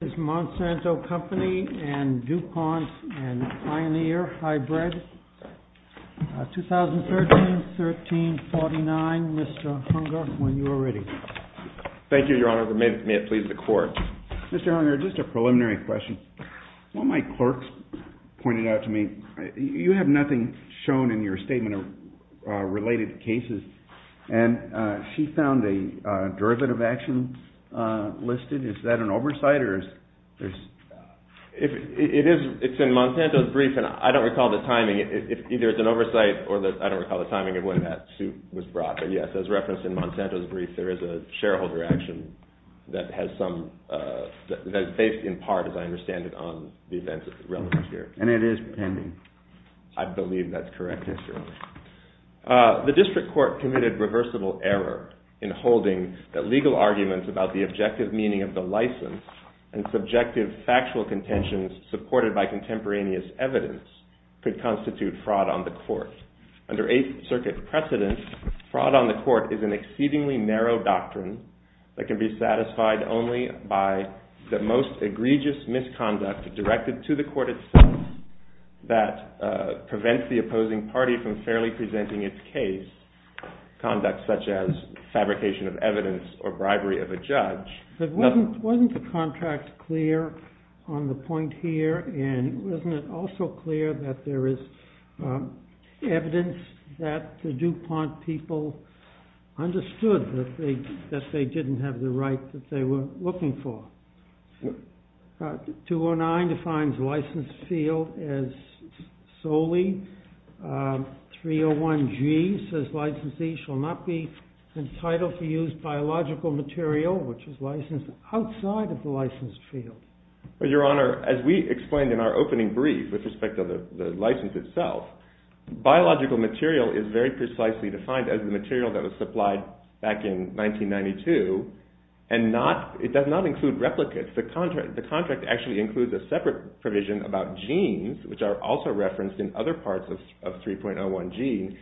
This is Monsanto Company and DuPont and Pioneer Hybrid, 2013-13-49. Mr. Hunger, when you are ready. Thank you, Your Honor. May it please the Court. Mr. Hunger, just a preliminary question. One of my clerks pointed out to me, you have nothing shown in your statement related to cases, and she found a derivative action listed. Is that an oversight? It's in Monsanto's brief, and I don't recall the timing. Either it's an oversight, or I don't recall the timing of when that suit was brought. But yes, as referenced in Monsanto's brief, there is a shareholder action that is based in part, as I understand it, on the events relevant here. And it is pending? I believe that's correct, yes, Your Honor. The District Court committed reversible error in holding that legal arguments about the objective meaning of the license and subjective factual contentions supported by contemporaneous evidence could constitute fraud on the Court. Under Eighth Circuit precedence, fraud on the Court is an exceedingly narrow doctrine that can be satisfied only by the most egregious misconduct directed to the Court itself that prevents the opposing party from fairly presenting its case, conduct such as fabrication of evidence or bribery of a judge. But wasn't the contract clear on the point here, and wasn't it also clear that there is evidence that the DuPont people understood that they didn't have the right that they were looking for? 209 defines licensed field as solely. 301G says licensee shall not be entitled to use biological material which is licensed outside of the licensed field. Your Honor, as we explained in our opening brief with respect to the license itself, biological material is very precisely defined as the material that was supplied back in 1992, and it does not include replicates. The contract actually includes a separate provision about genes which are also referenced in other parts of 3.01G,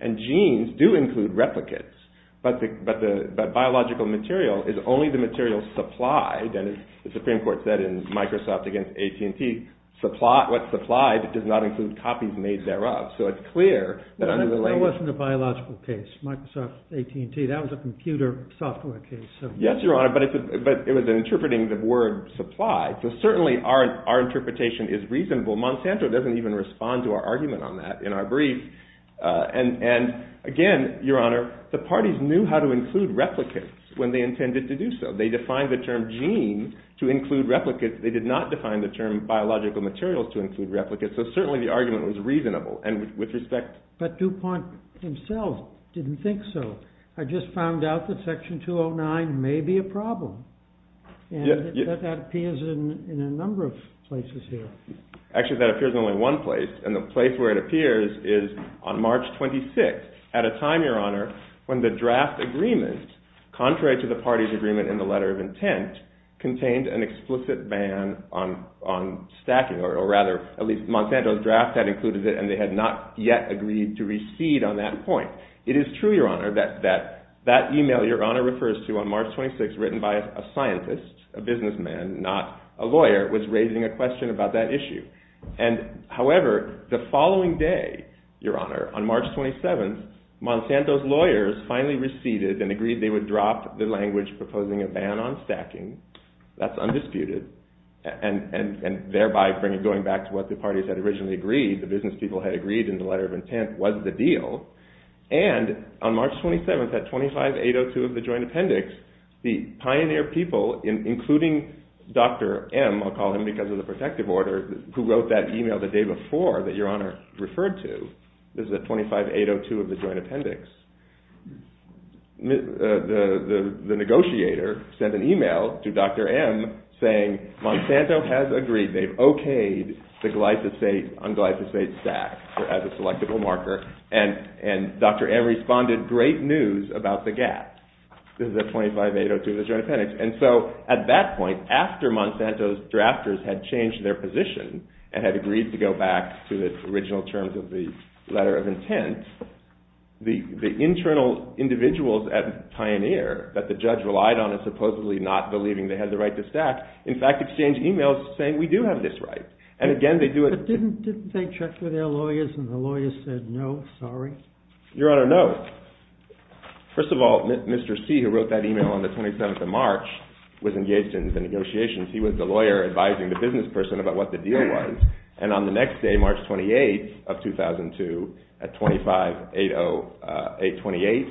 and genes do include replicates. But biological material is only the material supplied, and as the Supreme Court said in Microsoft v. AT&T, what's supplied does not include copies made thereof. So it's clear that under the language... That wasn't a biological case, Microsoft v. AT&T. That was a computer software case. Yes, Your Honor, but it was interpreting the word supply. So certainly our interpretation is reasonable. Monsanto doesn't even respond to our argument on that in our brief. And again, Your Honor, the parties knew how to include replicates when they intended to do so. They defined the term gene to include replicates. They did not define the term biological materials to include replicates. So certainly the argument was reasonable, and with respect... But DuPont himself didn't think so. I just found out that Section 209 may be a problem, and that appears in a number of places here. Actually, that appears in only one place, and the place where it appears is on March 26th, at a time, Your Honor, when the draft agreement, contrary to the party's agreement in the letter of intent, contained an explicit ban on stacking, or rather, at least Monsanto's draft had included it, and they had not yet agreed to recede on that point. It is true, Your Honor, that that email Your Honor refers to on March 26th, was written by a scientist, a businessman, not a lawyer, was raising a question about that issue. However, the following day, Your Honor, on March 27th, Monsanto's lawyers finally receded and agreed they would drop the language proposing a ban on stacking. That's undisputed, and thereby going back to what the parties had originally agreed, the business people had agreed in the letter of intent was the deal. And, on March 27th, at 25802 of the joint appendix, the pioneer people, including Dr. M, I'll call him because of the protective order, who wrote that email the day before that Your Honor referred to, this is at 25802 of the joint appendix, the negotiator sent an email to Dr. M saying, Monsanto has agreed, they've okayed the glyphosate on glyphosate stack, as a selectable marker, and Dr. M responded, great news about the gap. This is at 25802 of the joint appendix. And so, at that point, after Monsanto's drafters had changed their position and had agreed to go back to the original terms of the letter of intent, the internal individuals at Pioneer that the judge relied on in supposedly not believing they had the right to stack, in fact, exchanged emails saying, we do have this right. But didn't they check with their lawyers and the lawyers said, no, sorry? Your Honor, no. First of all, Mr. C, who wrote that email on the 27th of March, was engaged in the negotiations. He was the lawyer advising the business person about what the deal was. And, on the next day, March 28th of 2002, at 2580828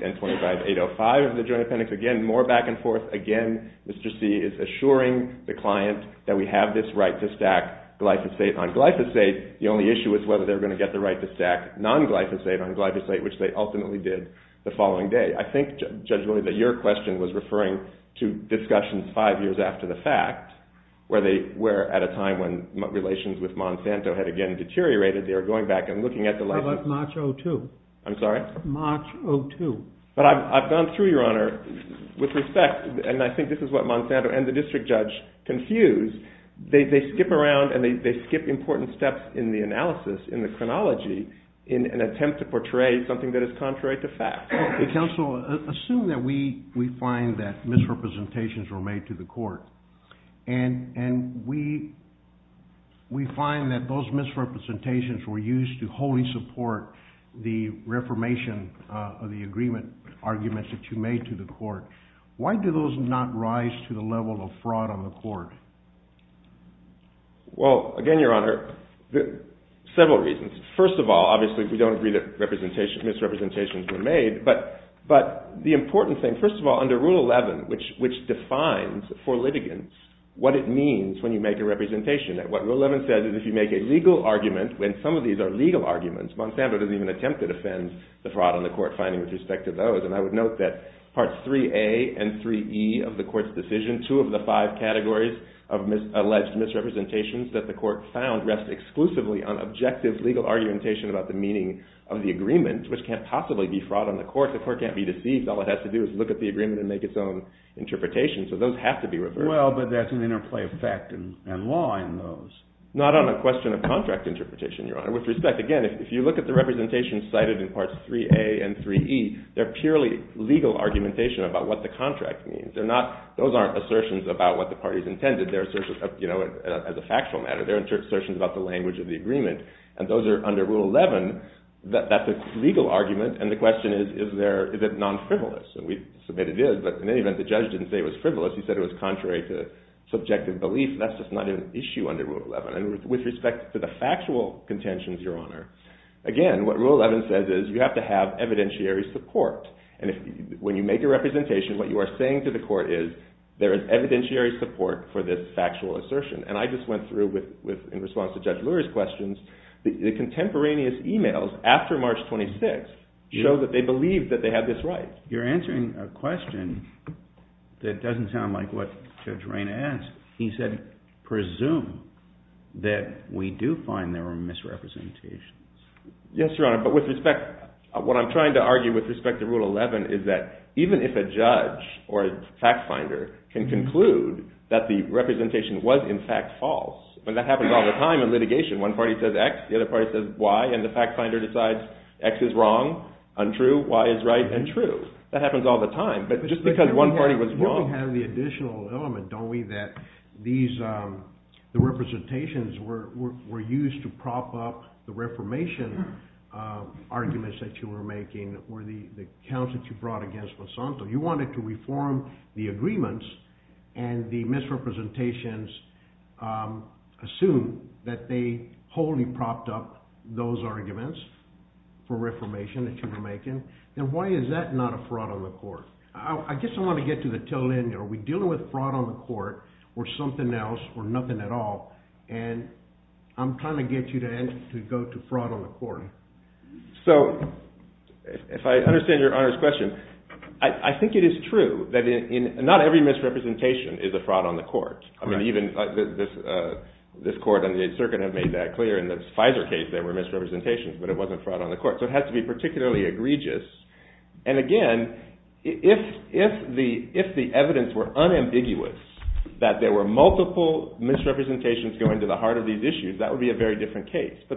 and 25805 of the joint appendix, again, more back and forth, again, Mr. C is assuring the client that we have this right to stack glyphosate. On glyphosate, the only issue is whether they're going to get the right to stack non-glyphosate on glyphosate, which they ultimately did the following day. I think, Judge Lloyd, that your question was referring to discussions five years after the fact, where they were at a time when relations with Monsanto had, again, deteriorated. They were going back and looking at the license. That was March 02. I'm sorry? March 02. But I've gone through, Your Honor, with respect, and I think this is what Monsanto and the district judge confused. They skip around, and they skip important steps in the analysis, in the chronology, in an attempt to portray something that is contrary to fact. Counsel, assume that we find that misrepresentations were made to the court, and we find that those misrepresentations were used to wholly support the reformation of the agreement, arguments that you made to the court. Why do those not rise to the level of fraud on the court? Well, again, Your Honor, several reasons. First of all, obviously, we don't agree that misrepresentations were made. But the important thing, first of all, under Rule 11, which defines for litigants what it means when you make a representation. What Rule 11 says is if you make a legal argument, and some of these are legal arguments. Monsanto doesn't even attempt to defend the fraud on the court finding with respect to those. And I would note that Parts 3A and 3E of the court's decision, two of the five categories of alleged misrepresentations that the court found rest exclusively on objective legal argumentation about the meaning of the agreement, which can't possibly be fraud on the court. The court can't be deceived. All it has to do is look at the agreement and make its own interpretation. So those have to be reversed. Well, but that's an interplay of fact and law in those. Not on a question of contract interpretation, Your Honor. With respect, again, if you look at the representations cited in Parts 3A and 3E, they're purely legal argumentation about what the contract means. Those aren't assertions about what the parties intended. They're assertions as a factual matter. They're assertions about the language of the agreement. And those are under Rule 11. That's a legal argument. And the question is, is it non-frivolous? And we submit it is. But in any event, the judge didn't say it was frivolous. He said it was contrary to subjective belief. That's just not an issue under Rule 11. And with respect to the factual contentions, Your Honor, Again, what Rule 11 says is you have to have evidentiary support. And when you make a representation, what you are saying to the court is there is evidentiary support for this factual assertion. And I just went through with, in response to Judge Lurie's questions, the contemporaneous e-mails after March 26th show that they believed that they had this right. You're answering a question that doesn't sound like what Judge Rayna asked. He said, presume that we do find there are misrepresentations. Yes, Your Honor. But with respect, what I'm trying to argue with respect to Rule 11 is that even if a judge or a fact finder can conclude that the representation was in fact false, and that happens all the time in litigation. One party says X, the other party says Y, and the fact finder decides X is wrong, untrue, Y is right, and true. That happens all the time. But just because one party was wrong. We have the additional element, don't we, that these representations were used to prop up the reformation arguments that you were making or the accounts that you brought against Monsanto. You wanted to reform the agreements, and the misrepresentations assume that they wholly propped up those arguments for reformation that you were making. Then why is that not a fraud on the court? I guess I want to get to the tail end. Are we dealing with fraud on the court or something else or nothing at all? And I'm trying to get you to go to fraud on the court. So if I understand Your Honor's question, I think it is true that not every misrepresentation is a fraud on the court. I mean even this court on the 8th Circuit have made that clear. In the Pfizer case there were misrepresentations, but it wasn't fraud on the court. So it has to be particularly egregious. And again, if the evidence were unambiguous that there were multiple misrepresentations going to the heart of these issues, that would be a very different case. So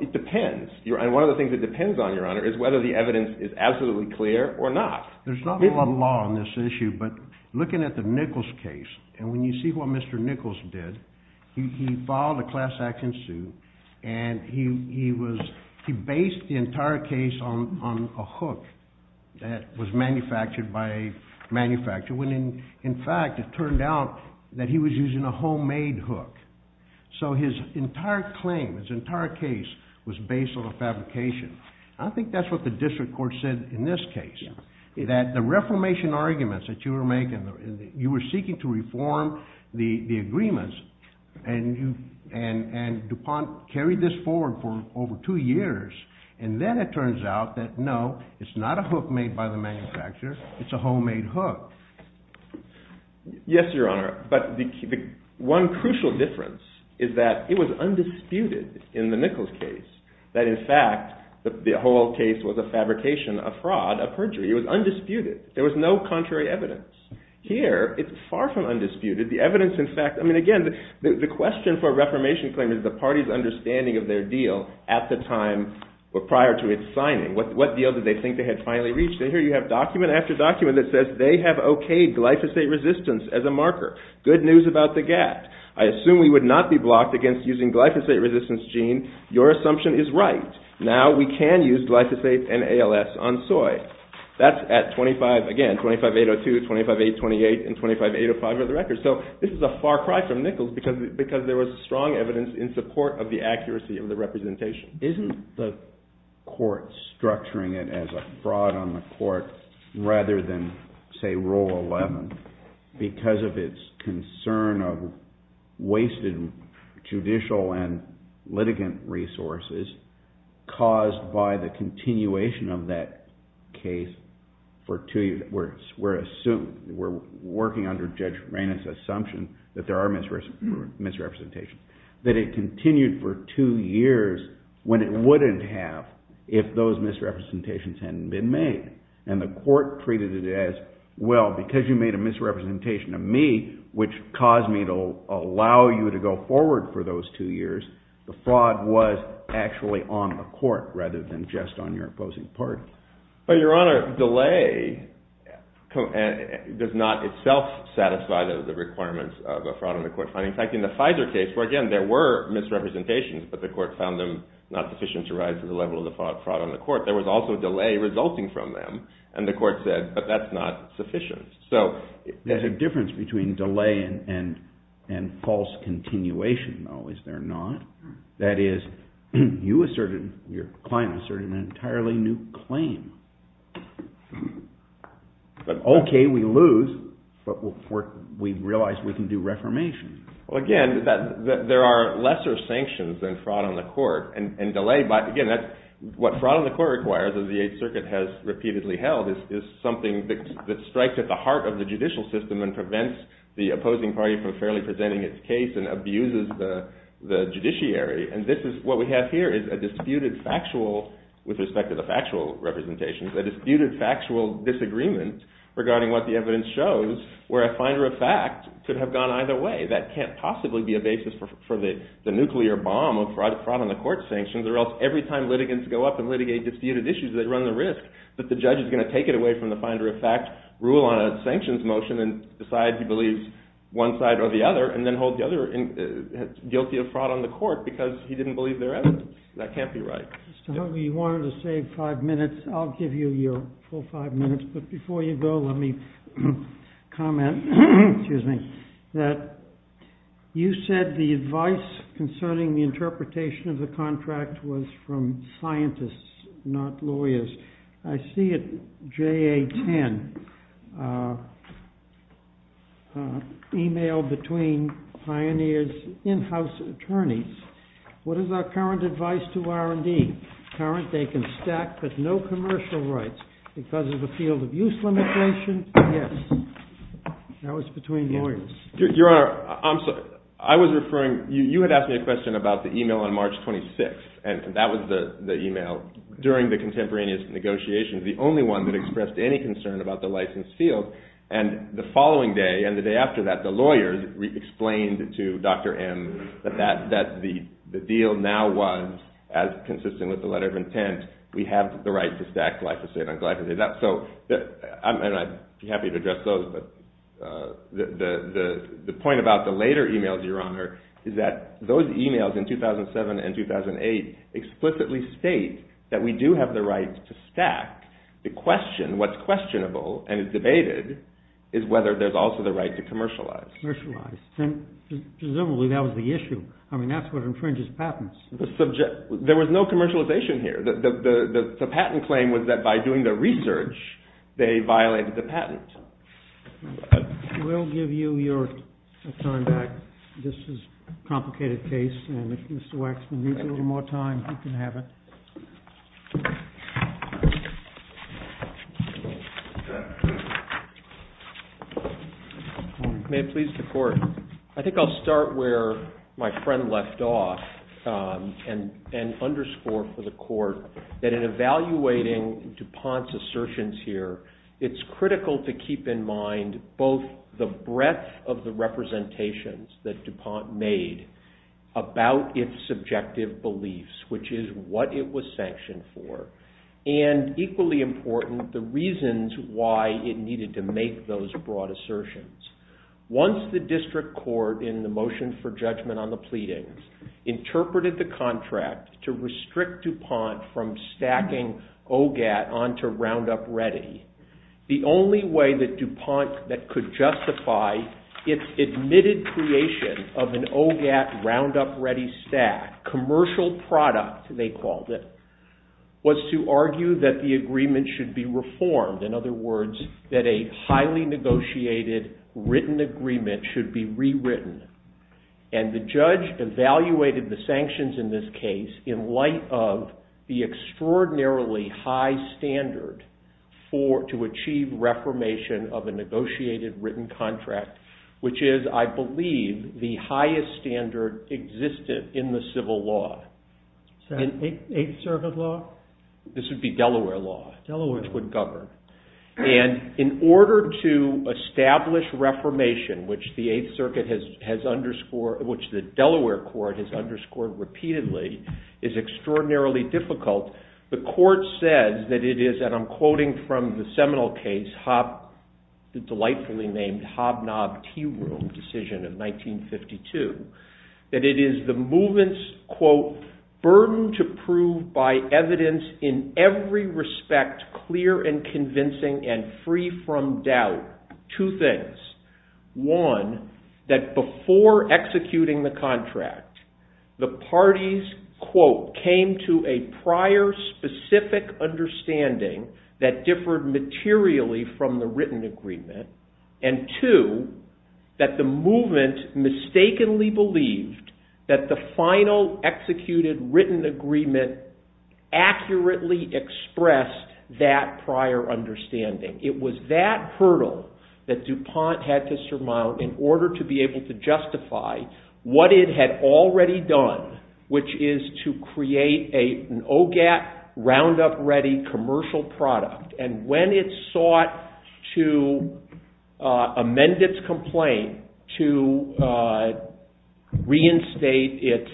it depends. And one of the things that depends on, Your Honor, is whether the evidence is absolutely clear or not. There's not a lot of law on this issue, but looking at the Nichols case, and when you see what Mr. Nichols did, he filed a class action suit, and he based the entire case on a hook that was manufactured by a manufacturer, when in fact it turned out that he was using a homemade hook. So his entire claim, his entire case, was based on a fabrication. I think that's what the district court said in this case, that the reformation arguments that you were making, you were seeking to reform the agreements, and DuPont carried this forward for over two years, and then it turns out that no, it's not a hook made by the manufacturer, it's a homemade hook. Yes, Your Honor, but one crucial difference is that it was undisputed in the Nichols case that in fact the whole case was a fabrication, a fraud, a perjury. It was undisputed. There was no contrary evidence. Here, it's far from undisputed. The question for a reformation claim is the party's understanding of their deal at the time prior to its signing. What deal did they think they had finally reached? Here you have document after document that says they have okayed glyphosate resistance as a marker. Good news about the gap. I assume we would not be blocked against using glyphosate resistance gene. Your assumption is right. Now we can use glyphosate and ALS on soy. That's at 25, again, 25.802, 25.828, and 25.805 are the records. So this is a far cry from Nichols because there was strong evidence in support of the accuracy of the representation. Isn't the court structuring it as a fraud on the court rather than, say, Rule 11 because of its concern of wasted judicial and litigant resources caused by the continuation of that case where we're working under Judge Raina's assumption that there are misrepresentations, that it continued for two years when it wouldn't have if those misrepresentations hadn't been made and the court treated it as, well, because you made a misrepresentation of me which caused me to allow you to go forward for those two years, the fraud was actually on the court rather than just on your opposing party. Well, Your Honor, delay does not itself satisfy the requirements of a fraud on the court. In fact, in the FISA case, where again there were misrepresentations but the court found them not sufficient to rise to the level of the fraud on the court, there was also delay resulting from them and the court said, but that's not sufficient. There's a difference between delay and false continuation, though, is there not? That is, you asserted, your client asserted an entirely new claim. Okay, we lose, but we realize we can do reformation. Well, again, there are lesser sanctions than fraud on the court and delay, again, what fraud on the court requires as the Eighth Circuit has repeatedly held is something that strikes at the heart of the judicial system and prevents the opposing party from fairly presenting its case and abuses the judiciary and this is what we have here is a disputed factual, with respect to the factual representations, a disputed factual disagreement regarding what the evidence shows where a finder of fact could have gone either way. That can't possibly be a basis for the nuclear bomb of fraud on the court sanctions or else every time litigants go up and litigate disputed issues, they run the risk that the judge is going to take it away from the finder of fact, rule on a sanctions motion and decide he believes one side or the other and then hold the other guilty of fraud on the court because he didn't believe their evidence. That can't be right. Mr. Huggie, you wanted to save five minutes, I'll give you your full five minutes, but before you go, let me comment, excuse me, that you said the advice concerning the interpretation of the contract was from scientists, not lawyers. I see at JA10, email between Pioneer's in-house attorneys. What is our current advice to R&D? Current, they can stack but no commercial rights because of a field of use limitation? Yes. That was between lawyers. Your Honor, I'm sorry. I was referring, you had asked me a question about the email on March 26th and that was the email during the contemporaneous negotiations, the only one that expressed any concern about the license field and the following day and the day after that, the lawyers explained to Dr. M that the deal now was, as consistent with the letter of intent, we have the right to stack glyphosate on glyphosate. I'd be happy to address those, but the point about the later emails, Your Honor, is that those emails in 2007 and 2008 explicitly state that we do have the right to stack. The question, what's questionable and is debated, is whether there's also the right to commercialize. Commercialize. Presumably that was the issue. I mean, that's what infringes patents. There was no commercialization here. The patent claim was that by doing the research, they violated the patent. We'll give you your time back. This is a complicated case and if Mr. Waxman needs a little more time, he can have it. May it please the Court. I think I'll start where my friend left off and underscore for the Court that in evaluating DuPont's assertions here, it's critical to keep in mind both the breadth of the representations that DuPont made about its subjective beliefs, which is what it was sanctioned for, and equally important, the reasons why it needed to make those broad assertions. Once the district court in the motion for judgment on the pleadings interpreted the contract to restrict DuPont from stacking OGAT onto Roundup Ready, the only way that DuPont could justify its admitted creation of an OGAT Roundup Ready stack, commercial product, they called it, was to argue that the agreement should be reformed, in other words, that a highly negotiated written agreement should be rewritten. And the judge evaluated the sanctions in this case in light of the extraordinarily high standard to achieve reformation of a negotiated written contract, which is, I believe, the highest standard existed in the civil law. The 8th Circuit law? This would be Delaware law, which would govern. And in order to establish reformation, which the 8th Circuit has underscored, which the Delaware court has underscored repeatedly, is extraordinarily difficult. The court says that it is, and I'm quoting from the Seminole case, the delightfully named Hobnob Tea Room decision of 1952, that it is the movement's, quote, burden to prove by evidence in every respect clear and convincing and free from doubt two things. One, that before executing the contract, the parties, quote, came to a prior specific understanding that differed materially from the written agreement, and two, that the movement mistakenly believed that the final executed written agreement accurately expressed that prior understanding. It was that hurdle that DuPont had to surmount in order to be able to justify what it had already done, which is to create an OGAT roundup ready commercial product. And when it sought to amend its complaint to reinstate its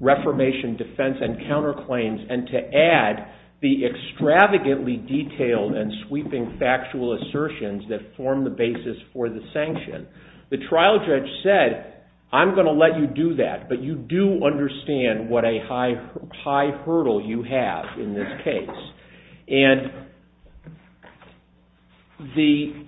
reformation defense and counterclaims and to add the extravagantly detailed and sweeping factual assertions that form the basis for the sanction, the trial judge said, I'm going to let you do that, but you do understand what a high hurdle you have in this case. And the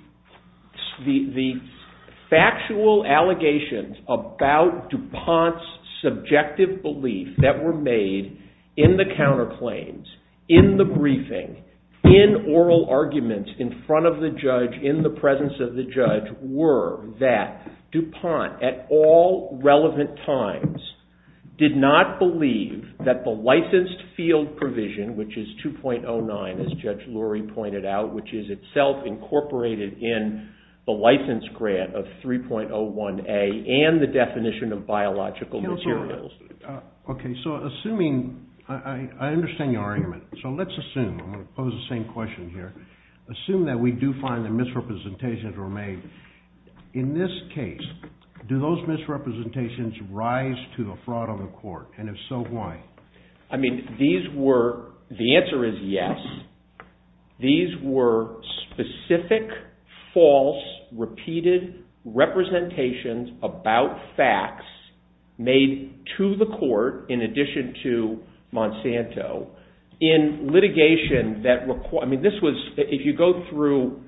factual allegations about DuPont's subjective belief that were made in the counterclaims, in the briefing, in oral arguments in front of the judge, in the presence of the judge, were that DuPont at all relevant times did not believe that the licensed field provision, which is 2.09, as Judge Lurie pointed out, which is itself incorporated in the license grant of 3.01A and the definition of biological materials. Okay, so assuming, I understand your argument, so let's assume, I'm going to pose the same question here, assume that we do find that misrepresentations were made. In this case, do those misrepresentations rise to the fraud of the court, and if so, why? I mean, these were, the answer is yes, these were specific, false, repeated representations about facts made to the court in addition to Monsanto in litigation that, I mean, this was, if you go through,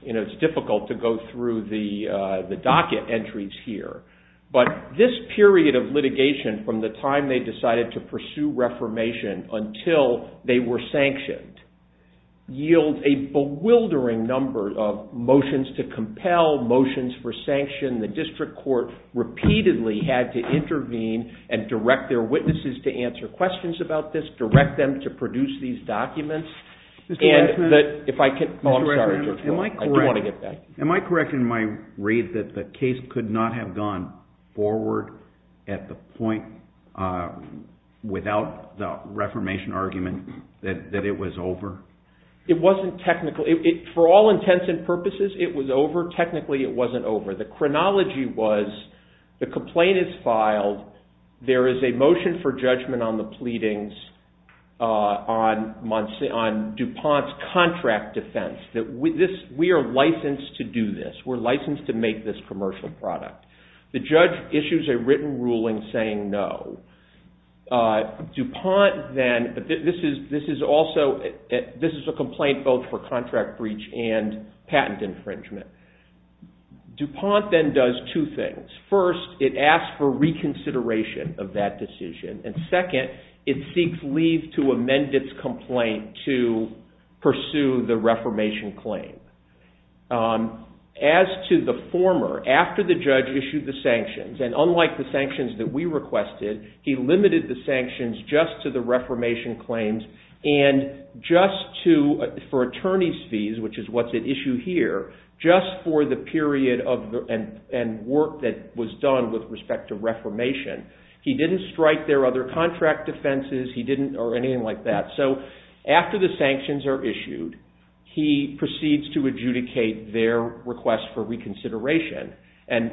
you know, it's difficult to go through the docket entries here, but this period of litigation from the time they decided to pursue reformation until they were sanctioned yield a bewildering number of motions to compel, motions for sanction. The district court repeatedly had to intervene and direct their witnesses to answer questions about this, direct them to produce these documents, and if I could, oh, I'm sorry, Judge Lurie, I do want to get back. Am I correct in my read that the case could not have gone forward at the point without the reformation argument that it was over? It wasn't technical. For all intents and purposes, it was over. Technically, it wasn't over. The chronology was the complaint is filed, there is a motion for judgment on the pleadings on DuPont's contract defense, that we are licensed to do this, we're licensed to make this commercial product. The judge issues a written ruling saying no. DuPont then, this is also, this is a complaint both for contract breach and patent infringement. DuPont then does two things. First, it asks for reconsideration of that decision, and second, it seeks leave to amend its complaint to pursue the reformation claim. As to the former, after the judge issued the sanctions, and unlike the sanctions that we requested, he limited the sanctions just to the reformation claims and just to, for attorney's fees, which is what's at issue here, just for the period and work that was done with respect to reformation. He didn't strike their other contract defenses, he didn't, or anything like that. So after the sanctions are issued, he proceeds to adjudicate their request for reconsideration. And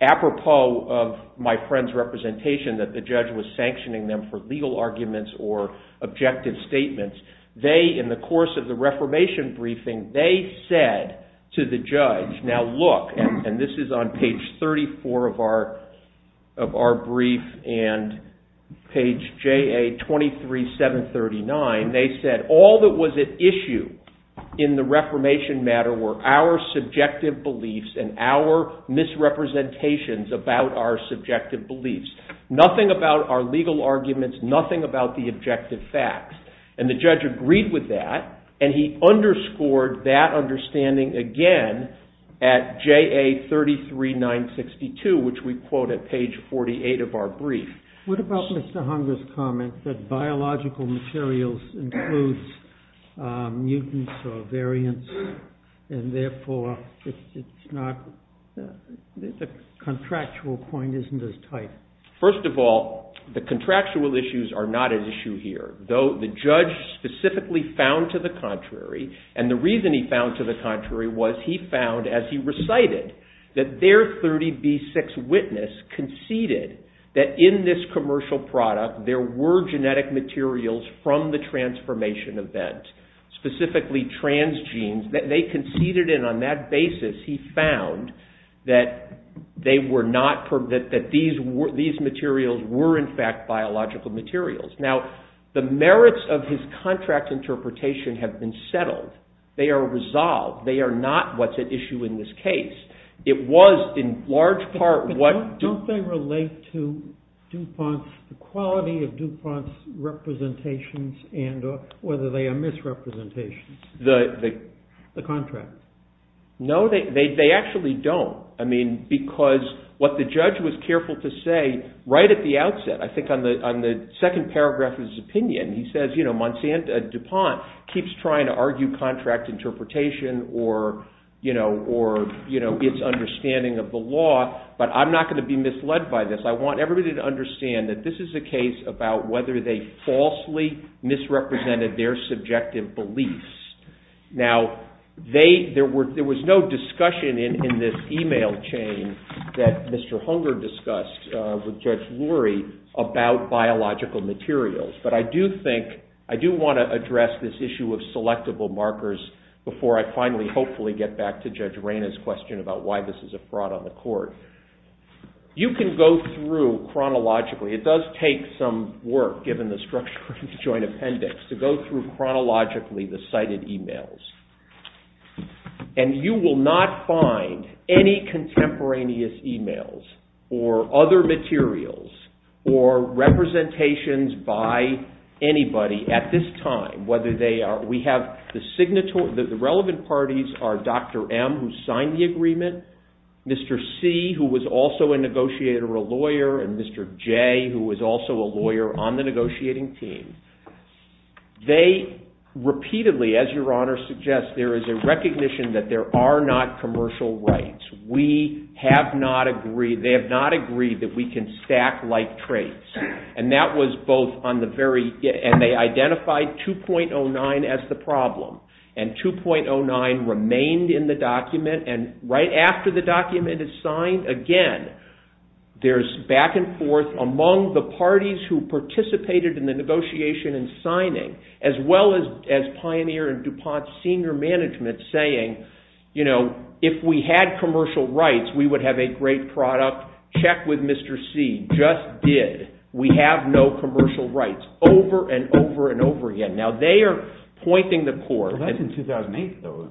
apropos of my friend's representation that the judge was sanctioning them for legal arguments or objective statements, they, in the course of the reformation briefing, they said to the judge, now look, and this is on page 34 of our brief, and page JA23739, they said all that was at issue in the reformation matter were our subjective beliefs and our misrepresentations about our subjective beliefs. Nothing about our legal arguments, nothing about the objective facts. And the judge agreed with that, and he underscored that understanding again at JA33962, which we quote at page 48 of our brief. What about Mr. Hunger's comment that biological materials includes mutants or variants, and therefore the contractual point isn't as tight? First of all, the contractual issues are not at issue here, though the judge specifically found to the contrary, and the reason he found to the contrary was he found, as he recited, that their 30B6 witness conceded that in this commercial product there were genetic materials from the transformation event, specifically transgenes. They conceded, and on that basis, he found that these materials were, in fact, biological materials. Now, the merits of his contract interpretation have been settled. They are resolved. They are not what's at issue in this case. But don't they relate to DuPont's, the quality of DuPont's representations and whether they are misrepresentations, the contracts? No, they actually don't. I mean, because what the judge was careful to say right at the outset, I think on the second paragraph of his opinion, he says, you know, DuPont keeps trying to argue contract interpretation or its understanding of the law. But I'm not going to be misled by this. I want everybody to understand that this is a case about whether they falsely misrepresented their subjective beliefs. Now, there was no discussion in this email chain that Mr. Hunger discussed with Judge Lurie about biological materials. But I do think, I do want to address this issue of selectable markers before I finally, hopefully, get back to Judge Reyna's question about why this is a fraud on the court. You can go through chronologically. It does take some work, given the structure of the Joint Appendix, to go through chronologically the cited emails. And you will not find any contemporaneous emails or other materials or representations by anybody at this time, whether they are, we have the relevant parties are Dr. M, who signed the agreement, Mr. C, who was also a negotiator or a lawyer, and Mr. J, who was also a lawyer on the negotiating team. They repeatedly, as Your Honor suggests, there is a recognition that there are not commercial rights. We have not agreed, they have not agreed that we can stack like traits. And that was both on the very, and they identified 2.09 as the problem. And 2.09 remained in the document. And right after the document is signed, again, there is back and forth among the parties who participated in the negotiation and signing, as well as Pioneer and DuPont's senior management saying, you know, if we had commercial rights, we would have a great product. Check with Mr. C just did. We have no commercial rights. Over and over and over again. Now, they are pointing the court. Well, that's in 2008, though.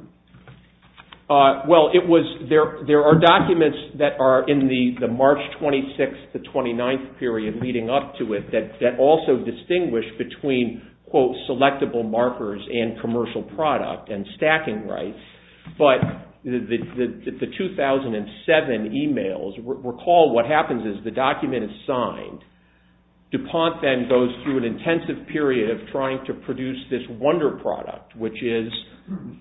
Well, it was, there are documents that are in the March 26th to 29th period leading up to it that also distinguish between, quote, selectable markers and commercial product and stacking rights. But the 2007 emails, recall what happens is the document is signed. DuPont then goes through an intensive period of trying to produce this wonder product, which is,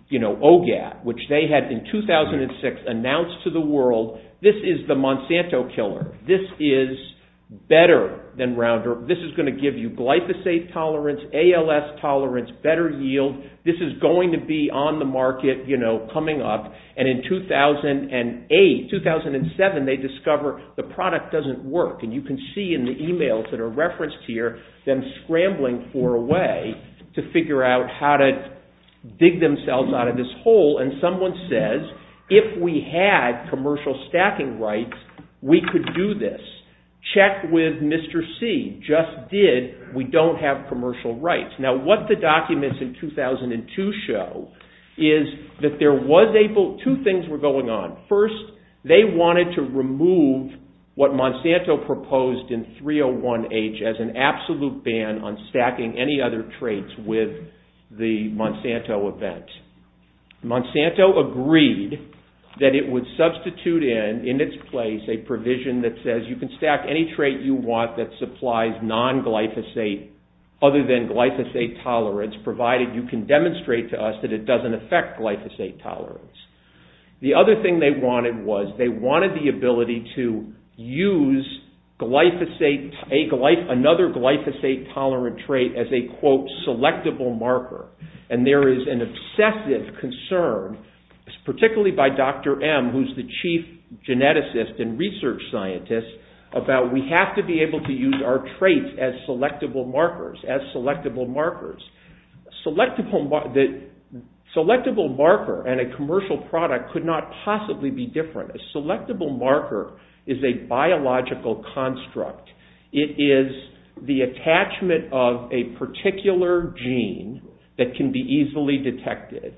you know, OGAT, which they had in 2006 announced to the world, this is the Monsanto killer. This is better than Roundup. This is going to give you glyphosate tolerance, ALS tolerance, better yield. This is going to be on the market, you know, coming up. And in 2008, 2007, they discover the product doesn't work. And you can see in the emails that are referenced here, them scrambling for a way to figure out how to dig themselves out of this hole. And someone says, if we had commercial stacking rights, we could do this. Check with Mr. C just did. We don't have commercial rights. Now, what the documents in 2002 show is that two things were going on. First, they wanted to remove what Monsanto proposed in 301H as an absolute ban on stacking any other traits with the Monsanto event. Monsanto agreed that it would substitute in, in its place, a provision that says you can stack any trait you want that supplies non-glyphosate other than glyphosate tolerance, provided you can demonstrate to us that it doesn't affect glyphosate tolerance. The other thing they wanted was, they wanted the ability to use glyphosate, another glyphosate-tolerant trait as a, quote, selectable marker. And there is an obsessive concern, particularly by Dr. M, who's the chief geneticist and research scientist, about we have to be able to use our traits as selectable markers, as selectable markers. Selectable marker and a commercial product could not possibly be different. A selectable marker is a biological construct. It is the attachment of a particular gene that can be easily detected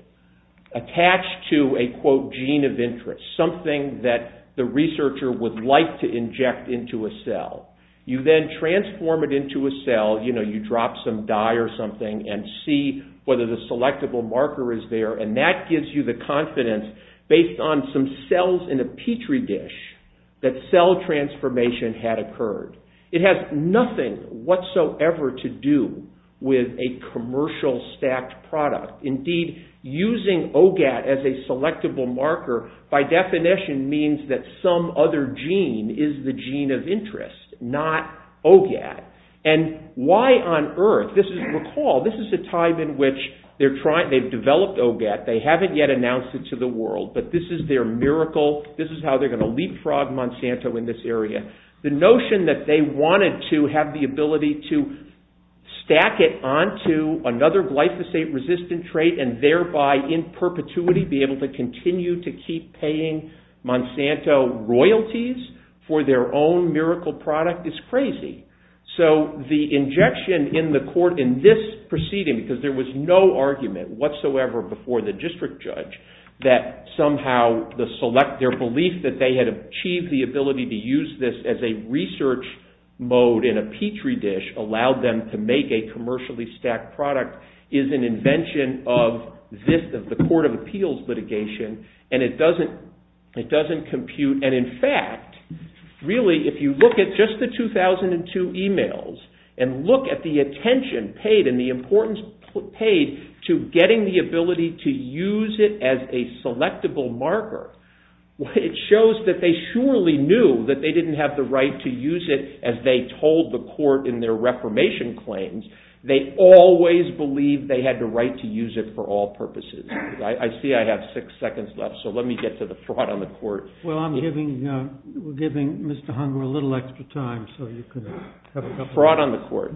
attached to a, quote, gene of interest, something that the researcher would like to inject into a cell. You then transform it into a cell, you know, you drop some dye or something and see whether the selectable marker is there, and that gives you the confidence, based on some cells in a petri dish, that cell transformation had occurred. It has nothing whatsoever to do with a commercial stacked product. Indeed, using OGAT as a selectable marker, by definition, means that some other gene is the gene of interest, not OGAT. And why on earth? This is, recall, this is a time in which they've developed OGAT. They haven't yet announced it to the world, but this is their miracle. This is how they're going to leapfrog Monsanto in this area. The notion that they wanted to have the ability to stack it onto another glyphosate-resistant trait and thereby, in perpetuity, be able to continue to keep paying Monsanto royalties for their own miracle product is crazy. So the injection in the court in this proceeding, because there was no argument whatsoever before the district judge, that somehow the select, their belief that they had achieved the ability to use this as a research mode in a petri dish allowed them to make a commercially stacked product, is an invention of the court of appeals litigation, and it doesn't compute. And in fact, really, if you look at just the 2002 emails and look at the attention paid and the importance paid to getting the ability to use it as a selectable marker, it shows that they surely knew that they didn't have the right to use it as they told the court in their reformation claims. They always believed they had the right to use it for all purposes. I see I have six seconds left, so let me get to the fraud on the court. Well, I'm giving Mr. Hunger a little extra time so you can have a couple of minutes. Fraud on the court.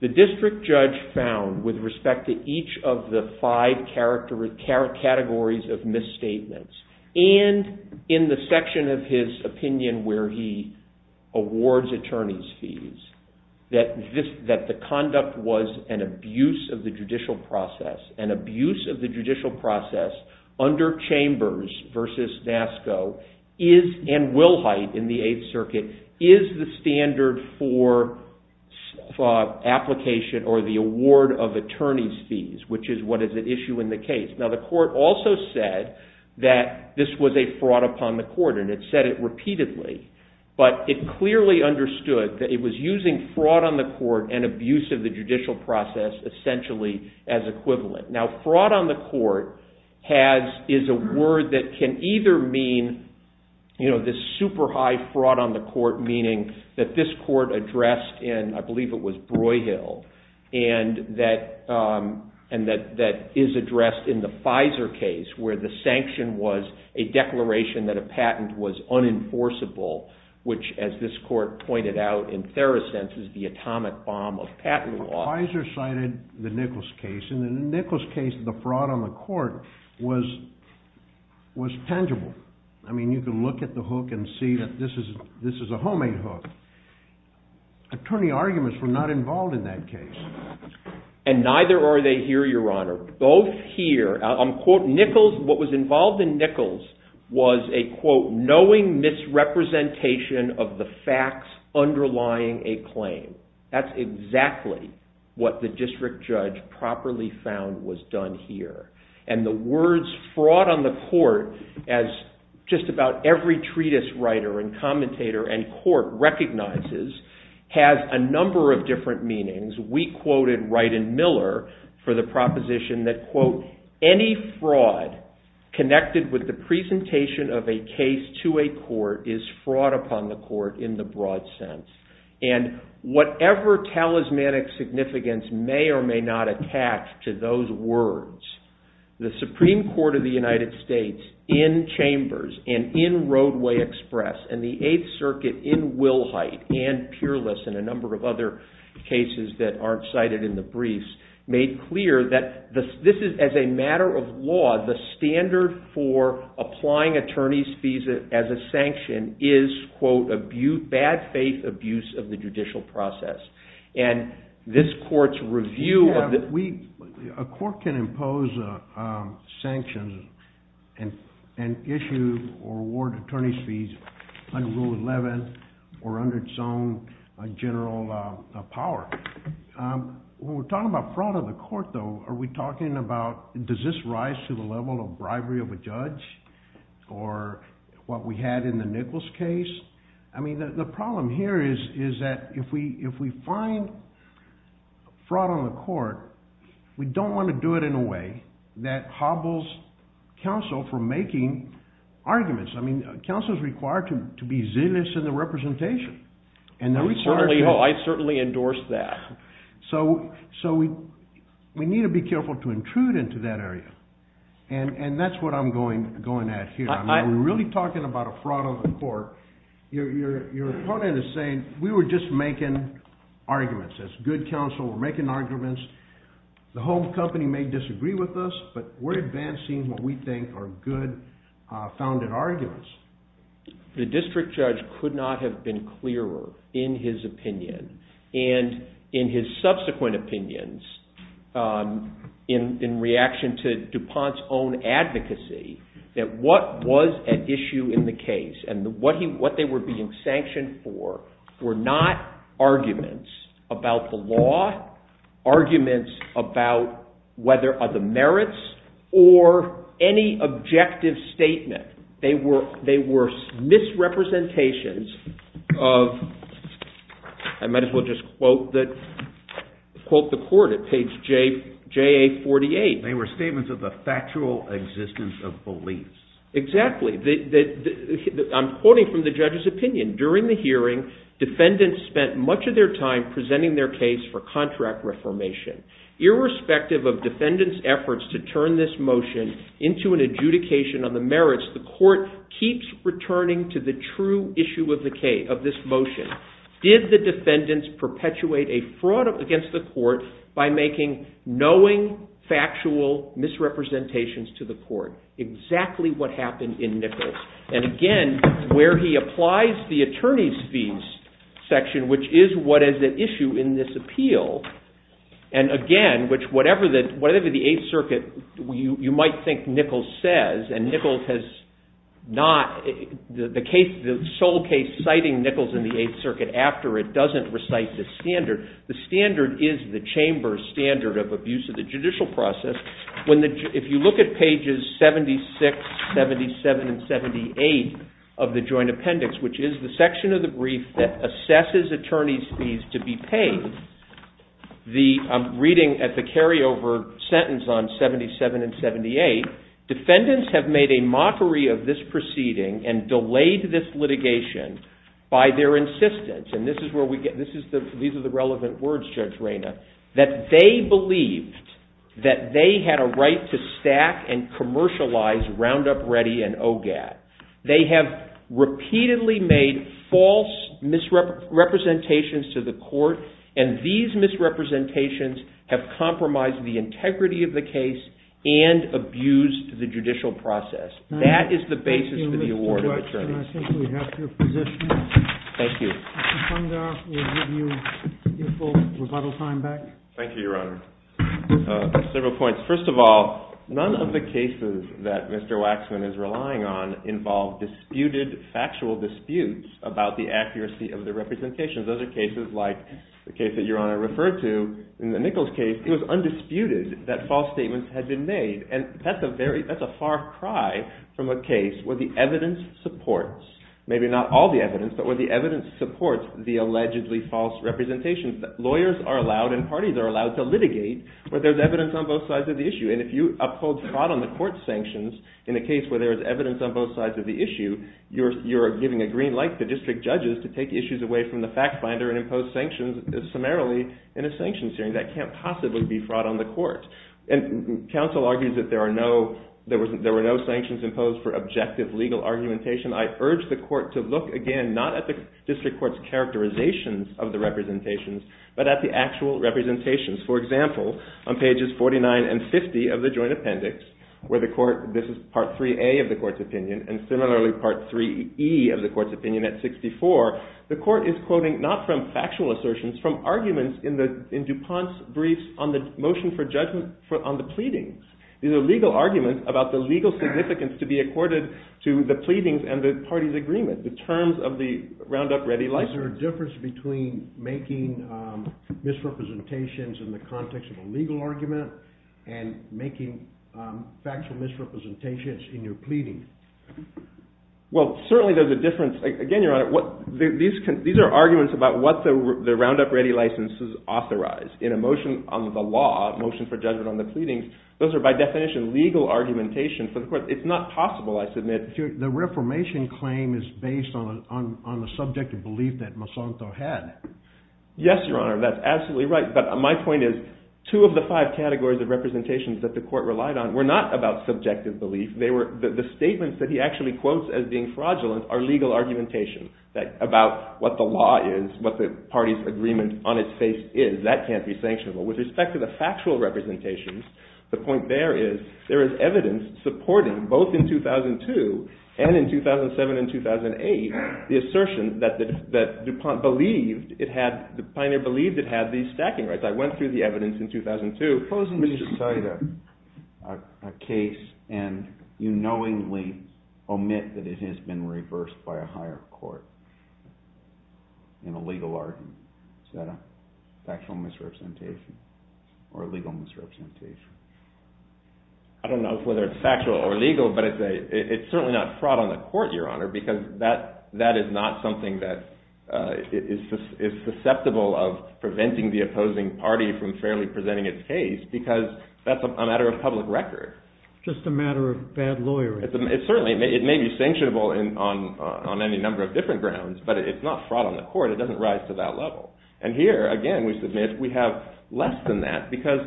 The district judge found, with respect to each of the five categories of misstatements, and in the section of his opinion where he awards attorney's fees, that the conduct was an abuse of the judicial process. An abuse of the judicial process under Chambers versus NASCO and Wilhite in the Eighth Circuit is the standard for application or the award of attorney's fees, which is what is at issue in the case. Now, the court also said that this was a fraud upon the court, and it said it repeatedly, but it clearly understood that it was using fraud on the court and abuse of the judicial process essentially as equivalent. Now, fraud on the court is a word that can either mean this super high fraud on the court, meaning that this court addressed in, I believe it was Broyhill, and that is addressed in the Pfizer case where the sanction was a declaration that a patent was unenforceable, which as this court pointed out in Therosense is the atomic bomb of patent law. Pfizer cited the Nichols case, and in the Nichols case, the fraud on the court was tangible. I mean, you can look at the hook and see that this is a homemade hook. Attorney arguments were not involved in that case. And neither are they here, Your Honor. Both here, I'll quote Nichols, what was involved in Nichols was a, quote, knowing misrepresentation of the facts underlying a claim. That's exactly what the district judge properly found was done here. And the words fraud on the court as just about every treatise writer and commentator and court recognizes We quoted Wright and Miller for the proposition that, quote, Any fraud connected with the presentation of a case to a court is fraud upon the court in the broad sense. And whatever talismanic significance may or may not attach to those words, the Supreme Court of the United States in Chambers and in Roadway Express and the Eighth Circuit in Wilhite and Peerless and a number of other cases that aren't cited in the briefs made clear that this is, as a matter of law, the standard for applying attorney's fees as a sanction is, quote, bad faith abuse of the judicial process. And this court's review of the We, a court can impose sanctions and issue or award attorney's fees under Rule 11 or under its own general power. When we're talking about fraud on the court, though, are we talking about does this rise to the level of bribery of a judge or what we had in the Nichols case? I mean, the problem here is that if we find fraud on the court, we don't want to do it in a way that hobbles counsel from making arguments. I mean, counsel's required to be zealous in the representation. I certainly endorse that. So we need to be careful to intrude into that area. And that's what I'm going at here. I'm really talking about a fraud on the court. Your opponent is saying we were just making arguments. As good counsel, we're making arguments. The home company may disagree with us, but we're advancing what we think are good, founded arguments. The district judge could not have been clearer in his opinion and in his subsequent opinions in reaction to DuPont's own advocacy that what was at issue in the case and what they were being sanctioned for were not arguments about the law, arguments about whether other merits or any objective statement. They were misrepresentations of I might as well just quote the court at page JA48. They were statements of the factual existence of beliefs. Exactly. I'm quoting from the judge's opinion. During the hearing, defendants spent much of their time presenting their case for contract reformation. Irrespective of defendants' efforts to turn this motion into an adjudication on the merits, the court keeps returning to the true issue of this motion. Did the defendants perpetuate a fraud against the court by making knowing, factual misrepresentations to the court? Exactly what happened in Nichols. And again, where he applies the attorney's fees section, which is what is at issue in this appeal, and again, which whatever the Eighth Circuit, you might think Nichols says, and Nichols has not, the sole case citing Nichols in the Eighth Circuit after it doesn't recite this standard. The standard is the chamber's standard of abuse of the judicial process. If you look at pages 76, 77, and 78 of the joint appendix, which is the section of the brief that assesses attorney's fees to be paid, I'm reading at the carryover sentence on 77 and 78, defendants have made a mockery of this proceeding and delayed this litigation by their insistence, and these are the relevant words, Judge Rayna, that they believed that they had a right to stack and commercialize Roundup Ready and OGAD. They have repeatedly made false misrepresentations to the court and these misrepresentations have compromised the integrity of the case and abused the judicial process. That is the basis for the award of attorney. Thank you, Mr. Waxman. I think we have your position. Thank you. Mr. Funga will give you your full rebuttal time back. Thank you, Your Honor. Several points. First of all, none of the cases that Mr. Waxman is relying on involve disputed factual disputes about the accuracy of the representations. Those are cases like the case that Your Honor referred to in the Nichols case. It was undisputed that false statements had been made and that's a far cry from a case where the evidence supports, maybe not all the evidence, but where the evidence supports the allegedly false representations. Lawyers are allowed and parties are allowed to litigate where there's evidence on both sides of the issue and if you uphold spot on the court sanctions in a case where there is evidence on both sides of the issue, you're giving a green light to district judges to take issues away from the fact finder and impose sanctions summarily in a sanctions hearing. That can't possibly be fraud on the court. And counsel argues that there were no sanctions imposed for objective legal argumentation. I urge the court to look again, not at the district court's characterizations of the representations, but at the actual representations. For example, on pages 49 and 50 of the joint appendix, where this is Part 3A of the court's opinion and similarly Part 3E of the court's opinion at 64, the court is quoting, not from factual assertions, from arguments in DuPont's brief on the motion for judgment on the pleadings. These are legal arguments about the legal significance to be accorded to the pleadings and the party's agreement, the terms of the Roundup Ready license. Is there a difference between making misrepresentations in the context of a legal argument and making factual misrepresentations in your pleading? Well, certainly there's a difference. Again, Your Honor, these are arguments about what the Roundup Ready licenses authorize. In a motion on the law, a motion for judgment on the pleadings, those are by definition legal argumentations. But of course, it's not possible, I submit. The reformation claim is based on the subjective belief that Monsanto had. Yes, Your Honor, that's absolutely right. But my point is two of the five categories of representations that the court relied on were not about subjective belief. The statements that he actually quotes as being fraudulent are legal argumentations about what the law is, what the party's agreement on its face is. That can't be sanctionable. With respect to the factual representations, the point there is there is evidence supporting, both in 2002 and in 2007 and 2008, the assertion that DuPont believed it had, that Pioneer believed it had these stacking rights. I went through the evidence in 2002. Closing to cite a case and you knowingly omit that it has been reversed by a higher court in a legal argument, is that a factual misrepresentation or a legal misrepresentation? I don't know whether it's factual or legal, but it's certainly not fraud on the court, Your Honor, because that is not something that is susceptible of preventing the opposing party from fairly presenting its case because that's a matter of public record. Just a matter of bad lawyering. Certainly, it may be sanctionable on any number of different grounds, but it's not fraud on the court. It doesn't rise to that level. And here, again, we submit we have less than that because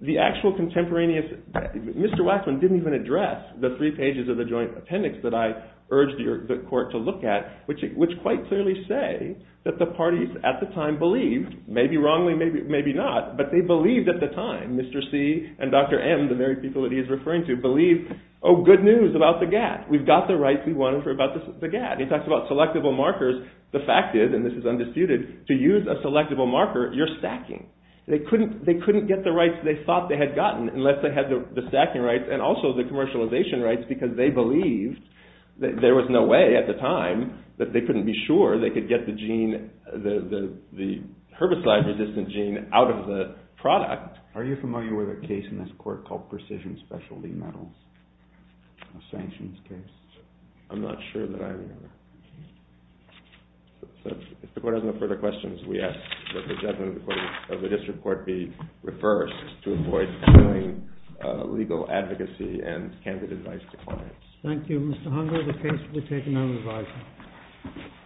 the actual contemporaneous... Mr. Waxman didn't even address the three pages of the joint appendix that I urged the court to look at, which quite clearly say that the parties at the time believed, maybe wrongly, maybe not, but they believed at the time. Mr. C and Dr. M, the very people that he is referring to, believed, oh, good news about the GATT. We've got the rights we wanted for the GATT. He talks about selectable markers. The fact is, and this is undisputed, to use a selectable marker, you're stacking. They couldn't get the rights they thought they had gotten unless they had the stacking rights and also the commercialization rights because they believed that there was no way at the time that they couldn't be sure they could get the gene, the herbicide-resistant gene, out of the product. Are you familiar with a case in this court called Precision Specialty Metals, a sanctions case? I'm not sure that I remember. If the court has no further questions, we ask that the judgment of the district court be reversed to avoid doing legal advocacy and candid advice to clients. Thank you, Mr. Hunger. The case will be taken on revising.